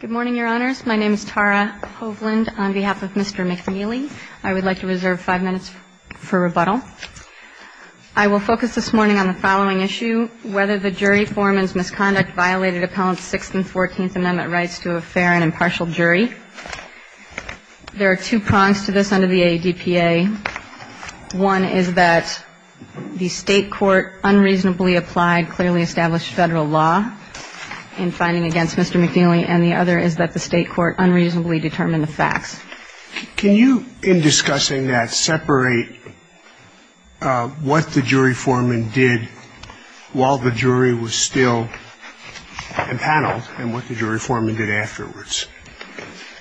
Good morning, Your Honors. My name is Tara Hovland. On behalf of Mr. McNeely, I would like to reserve five minutes for rebuttal. I will focus this morning on the following issue, whether the jury foreman's misconduct violated Appellants 6th and 14th Amendment rights to a fair and impartial jury. There are two prongs to this under the ADPA. One is that the state court unreasonably applied clearly established federal law in finding against Mr. McNeely. And the other is that the state court unreasonably determined the facts. Can you, in discussing that, separate what the jury foreman did while the jury was still in panel and what the jury foreman did afterwards?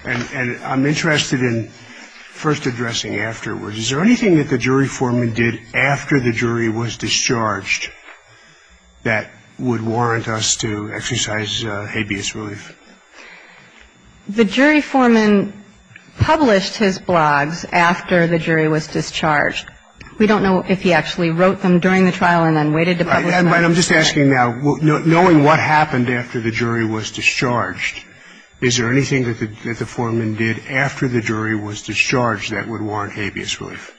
And I'm interested in first addressing afterwards. Is there anything that the jury foreman did after the jury was discharged that would warrant us to exercise habeas relief? The jury foreman published his blogs after the jury was discharged. We don't know if he actually wrote them during the trial and then waited to publish them afterwards. I'm just asking now, knowing what happened after the jury was discharged, is there anything that the foreman did after the jury was discharged that would warrant habeas relief?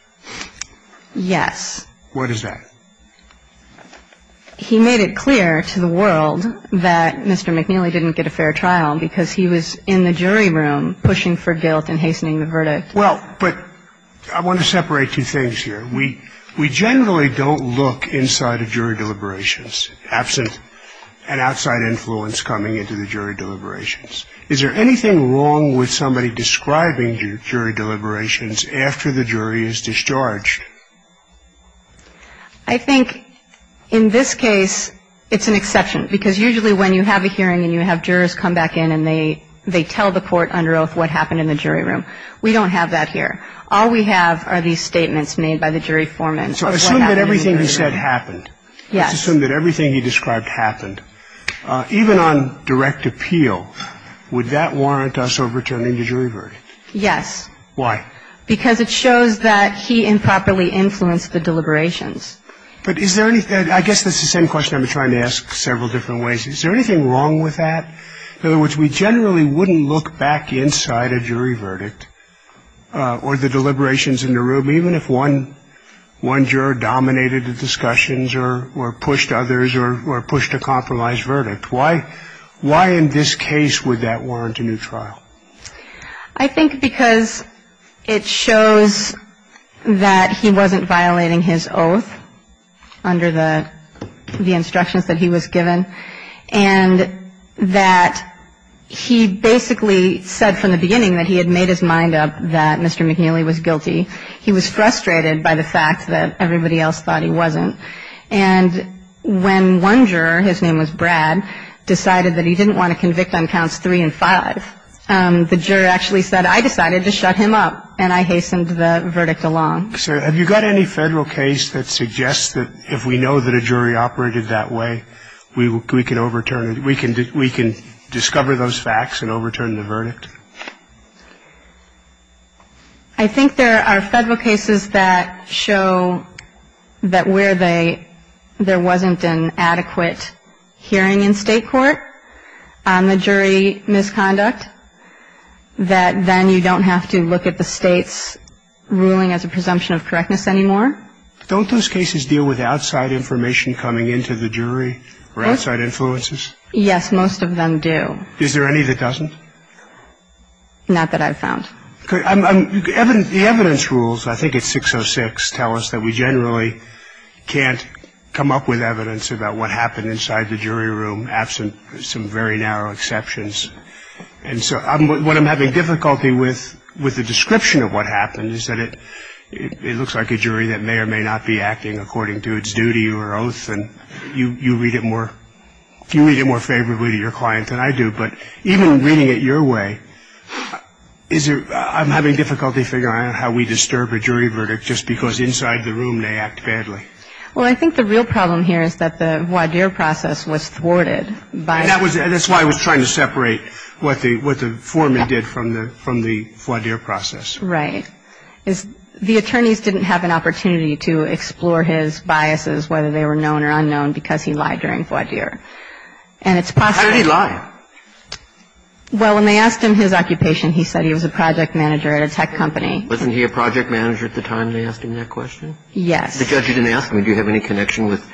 Yes. What is that? He made it clear to the world that Mr. McNeely didn't get a fair trial because he was in the jury room pushing for guilt and hastening the verdict. Well, but I want to separate two things here. We generally don't look inside of jury deliberations, absent an outside influence coming into the jury deliberations. Is there anything wrong with somebody describing jury deliberations after the jury is discharged? I think in this case it's an exception because usually when you have a hearing and you have jurors come back in and they tell the court under oath what happened in the jury room, we don't have that here. All we have are these statements made by the jury foreman. So I assume that everything he said happened. Yes. Let's assume that everything he described happened. Even on direct appeal, would that warrant us overturning the jury verdict? Yes. Why? Because it shows that he improperly influenced the deliberations. But is there any – I guess that's the same question I've been trying to ask several different ways. Is there anything wrong with that? In other words, we generally wouldn't look back inside a jury verdict or the deliberations in the room, even if one juror dominated the discussions or pushed others or pushed a compromised verdict. Why in this case would that warrant a new trial? I think because it shows that he wasn't violating his oath under the instructions that he was given and that he basically said from the beginning that he had made his mind up that Mr. McNeely was guilty. He was frustrated by the fact that everybody else thought he wasn't. And when one juror, his name was Brad, decided that he didn't want to convict on counts three and five, the juror actually said, I decided to shut him up, and I hastened the verdict along. So have you got any Federal case that suggests that if we know that a jury operated that way, we can overturn it? We can discover those facts and overturn the verdict? I think there are Federal cases that show that where there wasn't an adequate hearing in State court on the jury misconduct, that then you don't have to look at the State's ruling as a presumption of correctness anymore. Don't those cases deal with outside information coming into the jury or outside influences? Yes, most of them do. Is there any that doesn't? Not that I've found. The evidence rules, I think it's 606, tell us that we generally can't come up with evidence about what happened inside the jury room absent some very narrow exceptions. And so what I'm having difficulty with, with the description of what happened, is that it looks like a jury that may or may not be acting according to its duty or oath, and you read it more favorably to your client than I do. But even reading it your way, I'm having difficulty figuring out how we disturb a jury verdict just because inside the room they act badly. Well, I think the real problem here is that the voir dire process was thwarted by the jury. And that's why I was trying to separate what the foreman did from the voir dire process. Right. The attorneys didn't have an opportunity to explore his biases, whether they were known or unknown, because he lied during voir dire. How did he lie? Well, when they asked him his occupation, he said he was a project manager at a tech company. Wasn't he a project manager at the time they asked him that question? Yes. The judge didn't ask him, do you have any connection with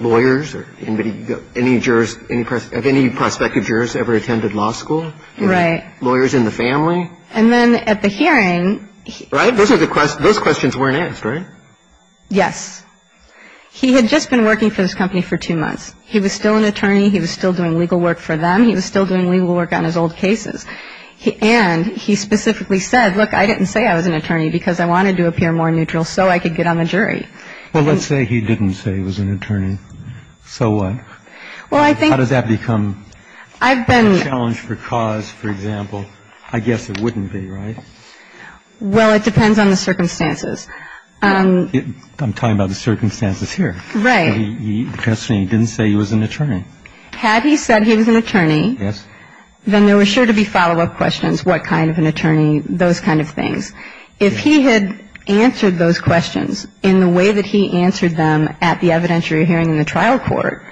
lawyers or anybody, any jurors, have any prospective jurors ever attended law school? Right. Lawyers in the family? And then at the hearing. Right? Those questions weren't asked, right? Yes. He had just been working for this company for two months. He was still an attorney. He was still doing legal work for them. He was still doing legal work on his old cases. And he specifically said, look, I didn't say I was an attorney because I wanted to appear more neutral so I could get on the jury. Well, let's say he didn't say he was an attorney. So what? Well, I think. How does that become a challenge for cause, for example? I guess it wouldn't be, right? Well, it depends on the circumstances. I'm talking about the circumstances here. Right. He didn't say he was an attorney. Had he said he was an attorney. Yes. Then there were sure to be follow-up questions, what kind of an attorney, those kind of things. If he had answered those questions in the way that he answered them at the evidentiary hearing in the trial court,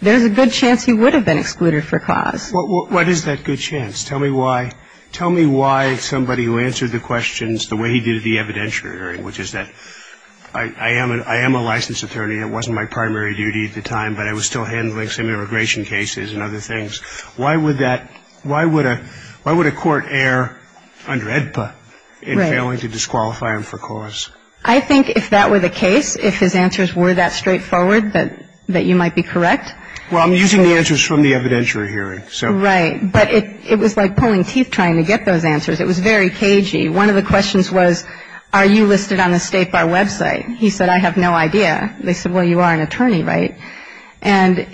there's a good chance he would have been excluded for cause. What is that good chance? Tell me why. Tell me why somebody who answered the questions the way he did at the evidentiary hearing, which is that I am a licensed attorney. It wasn't my primary duty at the time, but I was still handling some immigration cases and other things. Why would that, why would a court err under AEDPA in failing to disqualify him for cause? I think if that were the case, if his answers were that straightforward, that you might be correct. Well, I'm using the answers from the evidentiary hearing. Right. But it was like pulling teeth trying to get those answers. It was very cagey. One of the questions was, are you listed on the State Bar website? He said, I have no idea. They said, well, you are an attorney, right? And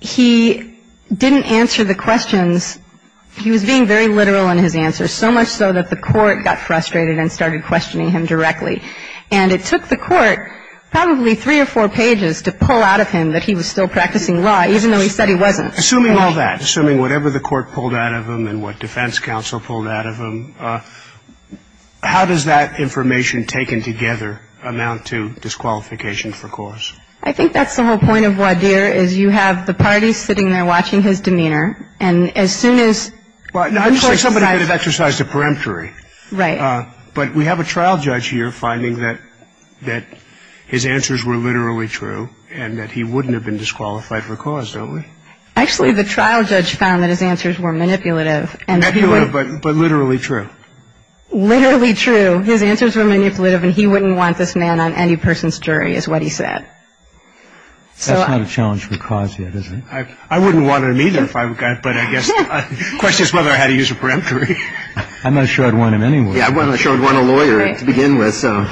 he didn't answer the questions. He was being very literal in his answers, so much so that the court got frustrated and started questioning him directly. And it took the court probably three or four pages to pull out of him that he was still practicing law, even though he said he wasn't. Assuming all that, assuming whatever the court pulled out of him and what defense counsel pulled out of him, how does that information taken together amount to disqualification for cause? I think that's the whole point of Wadir, is you have the parties sitting there watching his demeanor. And as soon as the court says – Well, I would say somebody would have exercised a peremptory. Right. But we have a trial judge here finding that his answers were literally true and that he wouldn't have been disqualified for cause, don't we? Actually, the trial judge found that his answers were manipulative. Manipulative, but literally true. Literally true. His answers were manipulative and he wouldn't want this man on any person's jury is what he said. That's not a challenge for cause yet, is it? I wouldn't want him either, but I guess the question is whether I had to use a peremptory. I'm not sure I'd want him anyway. Yeah, I'm not sure I'd want a lawyer to begin with, so.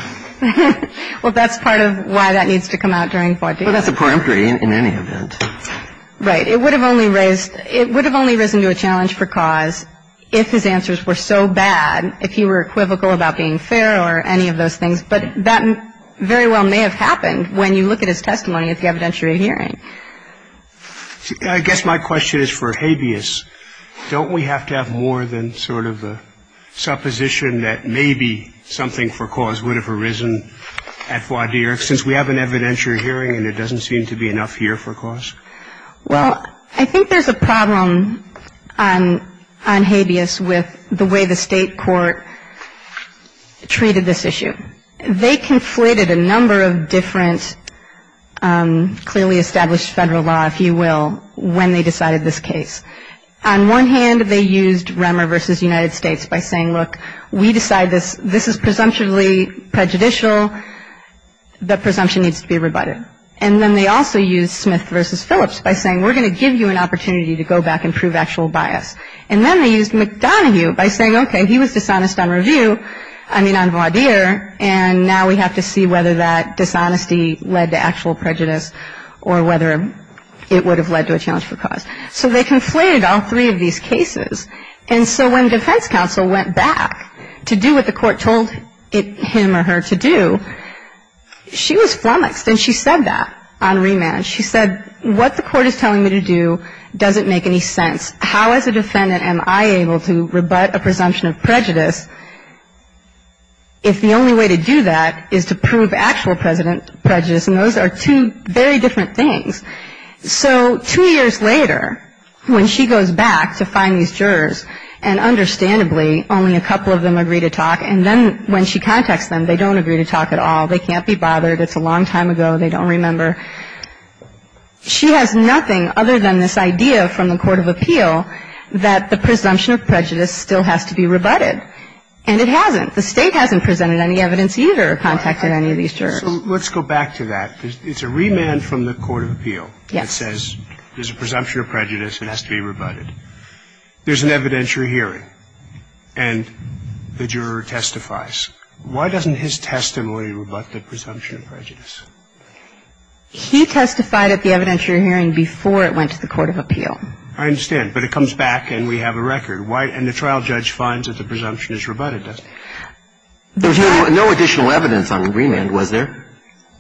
Well, that's part of why that needs to come out during Wadir. Well, that's a peremptory in any event. Right. It would have only raised – it would have only risen to a challenge for cause if his answers were so bad, if he were equivocal about being fair or any of those things. But that very well may have happened when you look at his testimony at the evidentiary hearing. I guess my question is for Habeas. Don't we have to have more than sort of a supposition that maybe something for cause would have arisen at Wadir since we have an evidentiary hearing and there doesn't seem to be enough here for cause? Well, I think there's a problem on Habeas with the way the state court treated this issue. They conflated a number of different clearly established Federal law, if you will, when they decided this case. On one hand, they used Remmer v. United States by saying, look, we decide this. This is presumptually prejudicial. The presumption needs to be rebutted. And then they also used Smith v. Phillips by saying, we're going to give you an opportunity to go back and prove actual bias. And then they used McDonough by saying, okay, he was dishonest on review, I mean on Wadir, and now we have to see whether that dishonesty led to actual prejudice or whether it would have led to a challenge for cause. So they conflated all three of these cases. And so when defense counsel went back to do what the court told him or her to do, she was flummoxed. And she said that on remand. She said, what the court is telling me to do doesn't make any sense. How as a defendant am I able to rebut a presumption of prejudice if the only way to do that is to prove actual prejudice? And those are two very different things. So two years later, when she goes back to find these jurors, and understandably only a couple of them agree to talk, and then when she contacts them, they don't agree to talk at all. They can't be bothered. It's a long time ago. They don't remember. She has nothing other than this idea from the court of appeal that the presumption of prejudice still has to be rebutted. And it hasn't. The State hasn't presented any evidence either, contacted any of these jurors. So let's go back to that. It's a remand from the court of appeal that says there's a presumption of prejudice. It has to be rebutted. There's an evidentiary hearing, and the juror testifies. Why doesn't his testimony rebut the presumption of prejudice? He testified at the evidentiary hearing before it went to the court of appeal. I understand. But it comes back, and we have a record. And the trial judge finds that the presumption is rebutted, doesn't he? There was no additional evidence on remand, was there?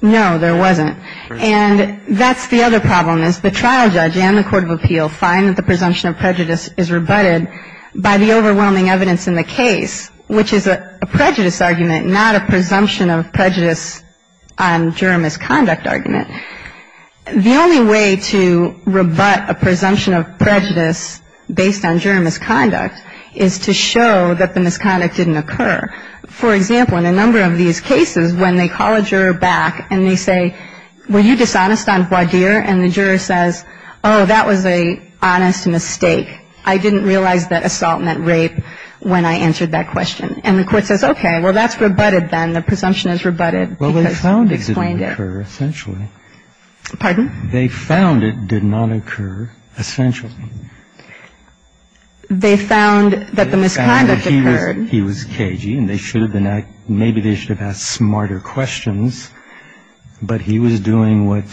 No, there wasn't. And that's the other problem, is the trial judge and the court of appeal find that the presumption of prejudice is rebutted by the overwhelming evidence in the case, which is a prejudice argument, not a presumption of prejudice on juror misconduct argument. The only way to rebut a presumption of prejudice based on juror misconduct is to show that the misconduct didn't occur. For example, in a number of these cases, when they call a juror back and they say, were you dishonest on voir dire, and the juror says, oh, that was an honest mistake. I didn't realize that assault meant rape when I answered that question. And the court says, okay, well, that's rebutted then. The presumption is rebutted because you explained it. Well, they found it didn't occur, essentially. Pardon? They found it did not occur, essentially. They found that the misconduct occurred. He was cagey, and maybe they should have asked smarter questions. But he was doing what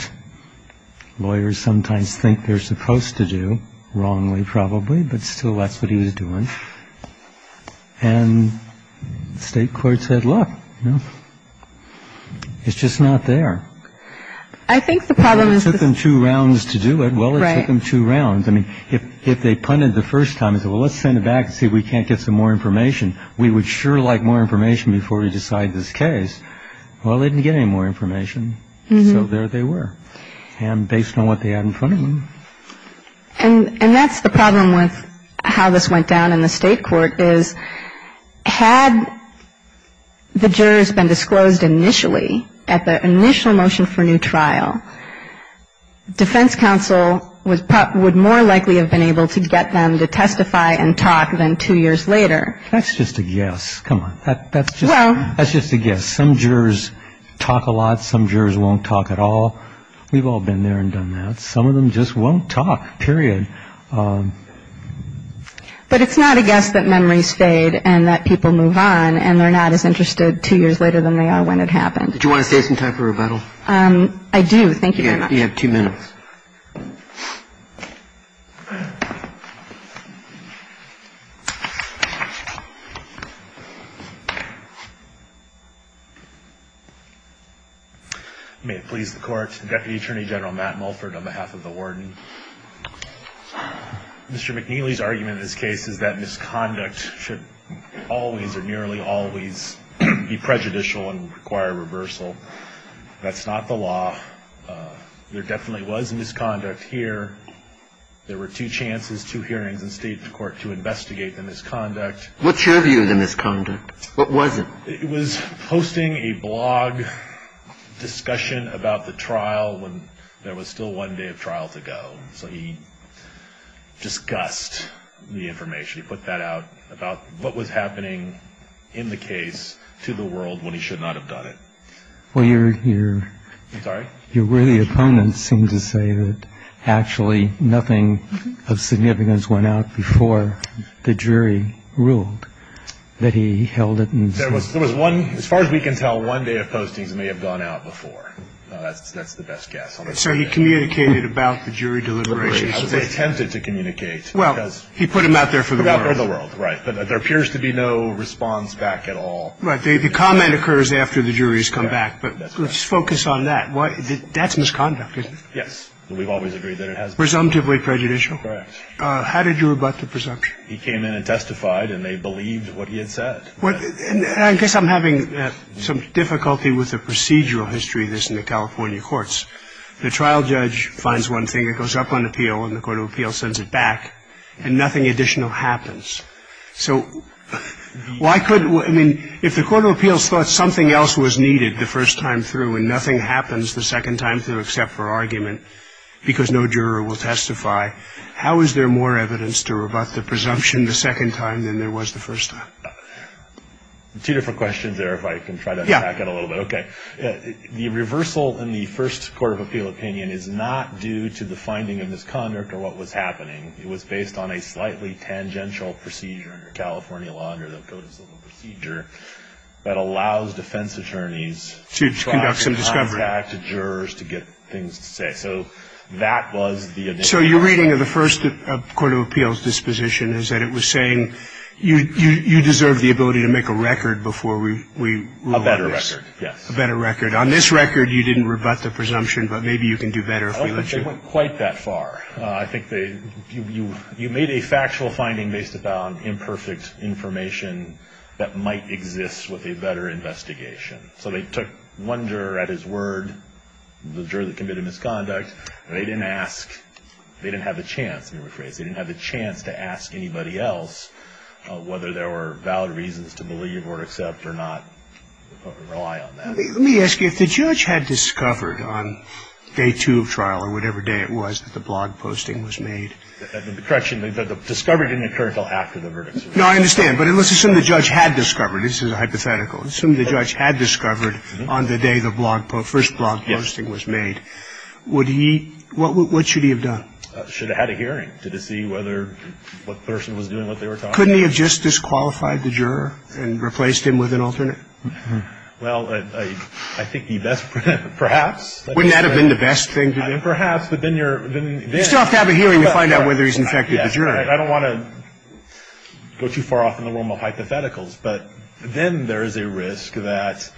lawyers sometimes think they're supposed to do, wrongly probably, but still that's what he was doing. And the state court said, look, you know, it's just not there. I think the problem is this. It took them two rounds to do it. Well, it took them two rounds. I mean, if they punted the first time and said, well, let's send it back and see if we can't get some more information, we would sure like more information before we decide this case. Well, they didn't get any more information. So there they were. And based on what they had in front of them. And that's the problem with how this went down in the state court is had the jurors been disclosed initially, at the initial motion for new trial, defense counsel would more likely have been able to get them to testify and talk than two years later. That's just a guess. Come on. That's just a guess. Some jurors talk a lot. Some jurors won't talk at all. We've all been there and done that. Some of them just won't talk, period. But it's not a guess that memories fade and that people move on and they're not as interested two years later than they are when it happened. That's just a guess. Do you want to say something to her? I do. Thank you. You have two minutes. May it please the Court. Deputy Attorney General Matt Mulford on behalf of the Warden. Mr. McNeely's argument in this case is that misconduct should always or nearly always be prejudicial and require reversal. That's not the law. There definitely was misconduct here. There were two chances, two hearings in state court to investigate the misconduct. What's your view of the misconduct? What was it? It was posting a blog discussion about the trial when there was still one day of trial to go. So he discussed the information. He put that out about what was happening in the case to the world when he should not have done it. Well, your worthy opponents seem to say that actually nothing of significance went out before the jury ruled that he held it in. As far as we can tell, one day of postings may have gone out before. That's the best guess. So he communicated about the jury deliberations. They attempted to communicate. Well, he put them out there for the world. Right. But there appears to be no response back at all. Right. The comment occurs after the jury has come back. But let's focus on that. That's misconduct, isn't it? Yes. We've always agreed that it has been. Presumptively prejudicial? Correct. How did you rebut the presumption? He came in and testified, and they believed what he had said. Well, I guess I'm having some difficulty with the procedural history of this in the California courts. The trial judge finds one thing, it goes up on appeal, and the court of appeals sends it back, and nothing additional happens. So why couldn't we – I mean, if the court of appeals thought something else was needed the first time through and nothing happens the second time through except for argument because no juror will testify, how is there more evidence to rebut the presumption the second time than there was the first time? Two different questions there, if I can try to track it a little bit. Yeah. Okay. The reversal in the first court of appeal opinion is not due to the finding of misconduct or what was happening. It was based on a slightly tangential procedure in the California law under the Code of Civil Procedure that allows defense attorneys to try to contact jurors to get things to say. To conduct some discovery. So that was the additional. So your reading of the first court of appeals disposition is that it was saying you deserve the ability to make a record before we rule out this. A better record, yes. A better record. On this record, you didn't rebut the presumption, but maybe you can do better if we let you. Oh, but they went quite that far. I think they – you made a factual finding based upon imperfect information that might exist with a better investigation. So they took one juror at his word, the juror that committed misconduct, and they didn't ask – they didn't have the chance, let me rephrase, they didn't have the chance to ask anybody else whether there were valid reasons to believe or accept or not rely on that. Let me ask you, if the judge had discovered on day two of trial or whatever day it was that the blog posting was made. The correction, the discovery didn't occur until after the verdict. No, I understand. But let's assume the judge had discovered. This is a hypothetical. Assume the judge had discovered on the day the blog – first blog posting was made. Yes. Would he – what should he have done? Should have had a hearing to see whether what person was doing what they were talking about. Couldn't he have just disqualified the juror and replaced him with an alternate? Well, I think the best – perhaps. Wouldn't that have been the best thing to do? Perhaps, but then you're – then – You still have to have a hearing to find out whether he's infected the juror. I don't want to go too far off in the realm of hypotheticals. But then there is a risk that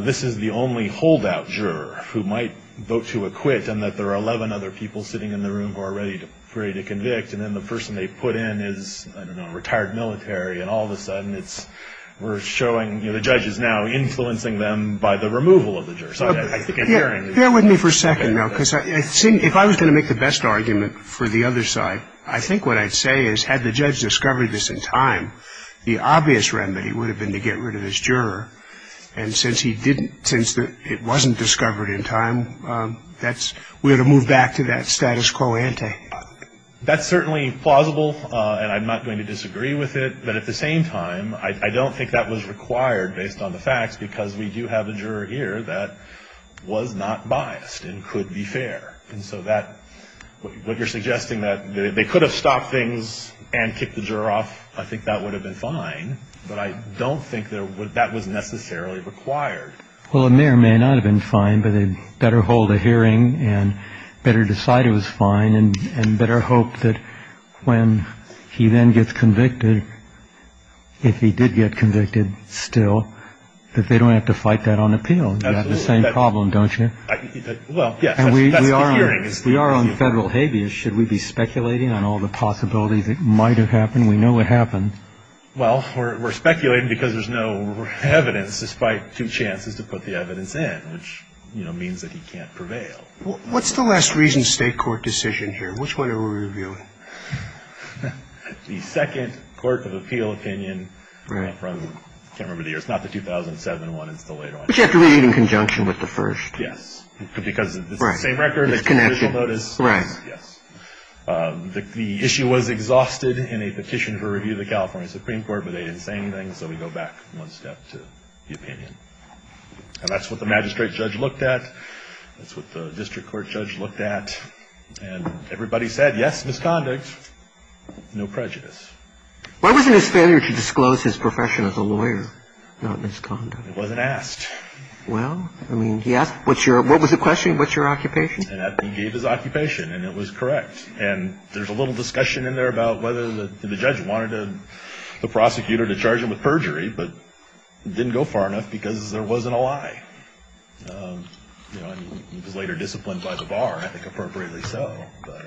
this is the only holdout juror who might vote to acquit and that there are 11 other people sitting in the room who are ready to convict. And then the person they put in is, I don't know, a retired military. And all of a sudden it's – we're showing – you know, the judge is now influencing them by the removal of the juror. So I think a hearing – Bear with me for a second now. Because I think – if I was going to make the best argument for the other side, I think what I'd say is had the judge discovered this in time, the obvious remedy would have been to get rid of this juror. And since he didn't – since it wasn't discovered in time, that's – we ought to move back to that status quo ante. That's certainly plausible, and I'm not going to disagree with it. But at the same time, I don't think that was required based on the facts because we do have a juror here that was not biased and could be fair. And so that – what you're suggesting, that they could have stopped things and kicked the juror off, I think that would have been fine. But I don't think that would – that was necessarily required. Well, a mayor may not have been fine, but they'd better hold a hearing and better decide it was fine and better hope that when he then gets convicted, if he did get convicted still, that they don't have to fight that on appeal. You have the same problem, don't you? Well, yes. That's the hearing. We are on federal habeas. Should we be speculating on all the possibilities that might have happened? We know what happened. Well, we're speculating because there's no evidence despite two chances to put the evidence in, which means that he can't prevail. What's the last reason state court decision here? Which one are we reviewing? The second court of appeal opinion from – I can't remember the year. It's not the 2007 one. It's the later one. But you have to read it in conjunction with the first. Yes. Because it's the same record, the same judicial notice. Right. Yes. The issue was exhausted in a petition for review of the California Supreme Court, but they didn't say anything, so we go back one step to the opinion. And that's what the magistrate judge looked at. That's what the district court judge looked at. And everybody said, yes, misconduct, no prejudice. Why wasn't his failure to disclose his profession as a lawyer not misconduct? It wasn't asked. Well, I mean, he asked, what was the question? What's your occupation? And he gave his occupation, and it was correct. And there's a little discussion in there about whether the judge wanted the prosecutor to charge him with perjury, but it didn't go far enough because there wasn't a lie. You know, he was later disciplined by the bar, I think appropriately so. But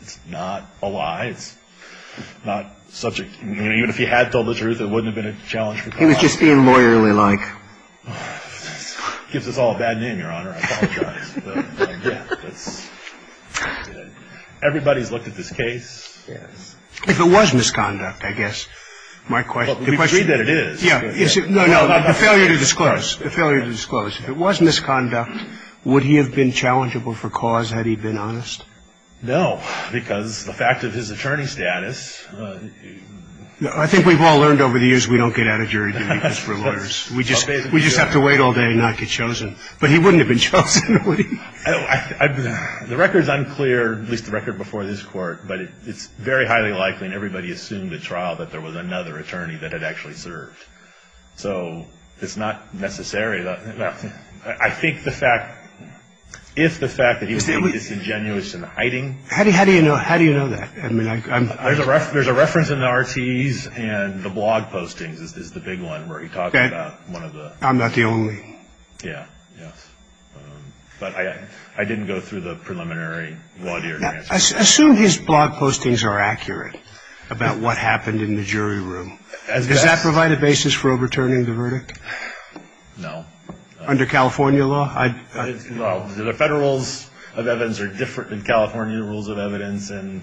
it's not a lie. It's not subject. I mean, even if he had told the truth, it wouldn't have been a challenge. He was just being lawyerly-like. Gives us all a bad name, Your Honor. I apologize. But, yeah, everybody's looked at this case. Yes. If it was misconduct, I guess, my question is. Well, we've agreed that it is. Yeah. No, no. The failure to disclose. The failure to disclose. If it was misconduct, would he have been challengeable for cause had he been honest? No, because the fact of his attorney status. I think we've all learned over the years we don't get out of jury duty because we're lawyers. We just have to wait all day and not get chosen. But he wouldn't have been chosen, would he? The record's unclear, at least the record before this Court, but it's very highly likely and everybody assumed at trial that there was another attorney that had actually served. So it's not necessary. I think the fact, if the fact that he was being disingenuous in hiding. How do you know that? I mean, I'm... There's a reference in the RTEs and the blog postings is the big one where he talks about one of the... I'm not the only. Yeah. Yes. But I didn't go through the preliminary. Assume his blog postings are accurate about what happened in the jury room. Does that provide a basis for overturning the verdict? No. Under California law? Well, the federal rules of evidence are different than California rules of evidence and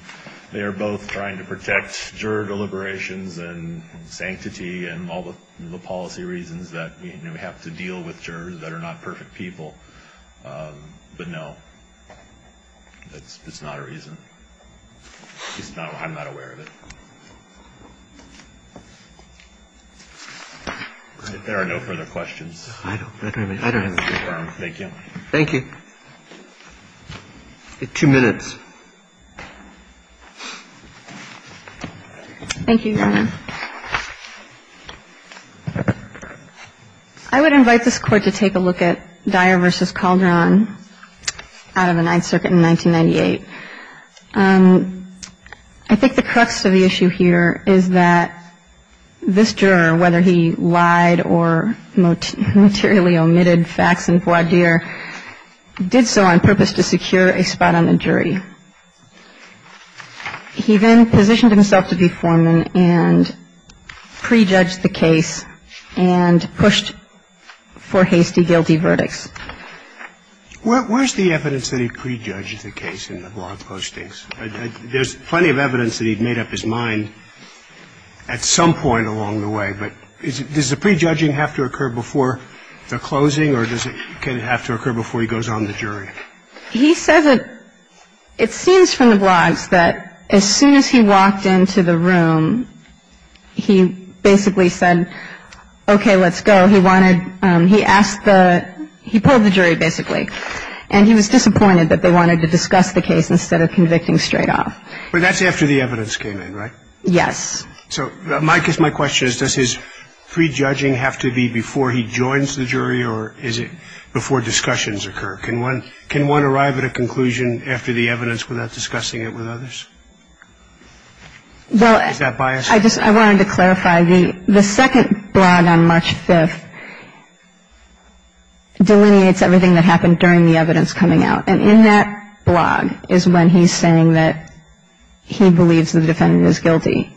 they are both trying to protect juror deliberations and sanctity and all the policy reasons that we have to deal with jurors that are not perfect people. But no, it's not a reason. I'm not aware of it. If there are no further questions. I don't have any. Thank you. Thank you. Two minutes. Thank you, Your Honor. I would invite this Court to take a look at Dyer v. Calderon out of the Ninth Circuit in 1998. I think the crux of the issue here is that this juror, whether he lied or materially omitted facts in voir dire, did so on purpose to secure a spot on the jury. He then positioned himself to be foreman and prejudged the case and pushed for hasty, guilty verdicts. Where's the evidence that he prejudged the case in the blog postings? There's plenty of evidence that he'd made up his mind at some point along the way, but does the prejudging have to occur before the closing or does it have to occur before he goes on the jury? He says that it seems from the blogs that as soon as he walked into the room, he basically said, okay, let's go. He pulled the jury, basically, and he was disappointed that they wanted to discuss the case instead of convicting straight off. But that's after the evidence came in, right? Yes. So I guess my question is, does his prejudging have to be before he joins the jury or is it before discussions occur? Can one arrive at a conclusion after the evidence without discussing it with others? Is that biased? I wanted to clarify. The second blog on March 5th delineates everything that happened during the evidence coming out, and in that blog is when he's saying that he believes the defendant is guilty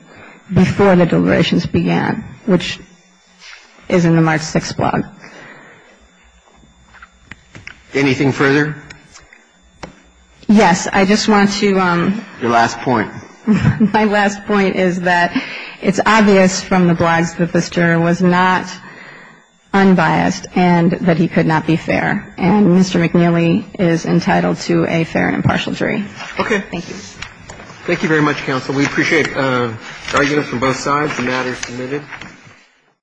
before the deliberations began, which is in the March 6th blog. Anything further? Yes. I just want to ‑‑ Your last point. My last point is that it's obvious from the blogs that this juror was not unbiased and that he could not be fair. And Mr. McNeely is entitled to a fair and impartial jury. Okay. Thank you. Thank you very much, counsel. We appreciate arguments from both sides. The matter is submitted.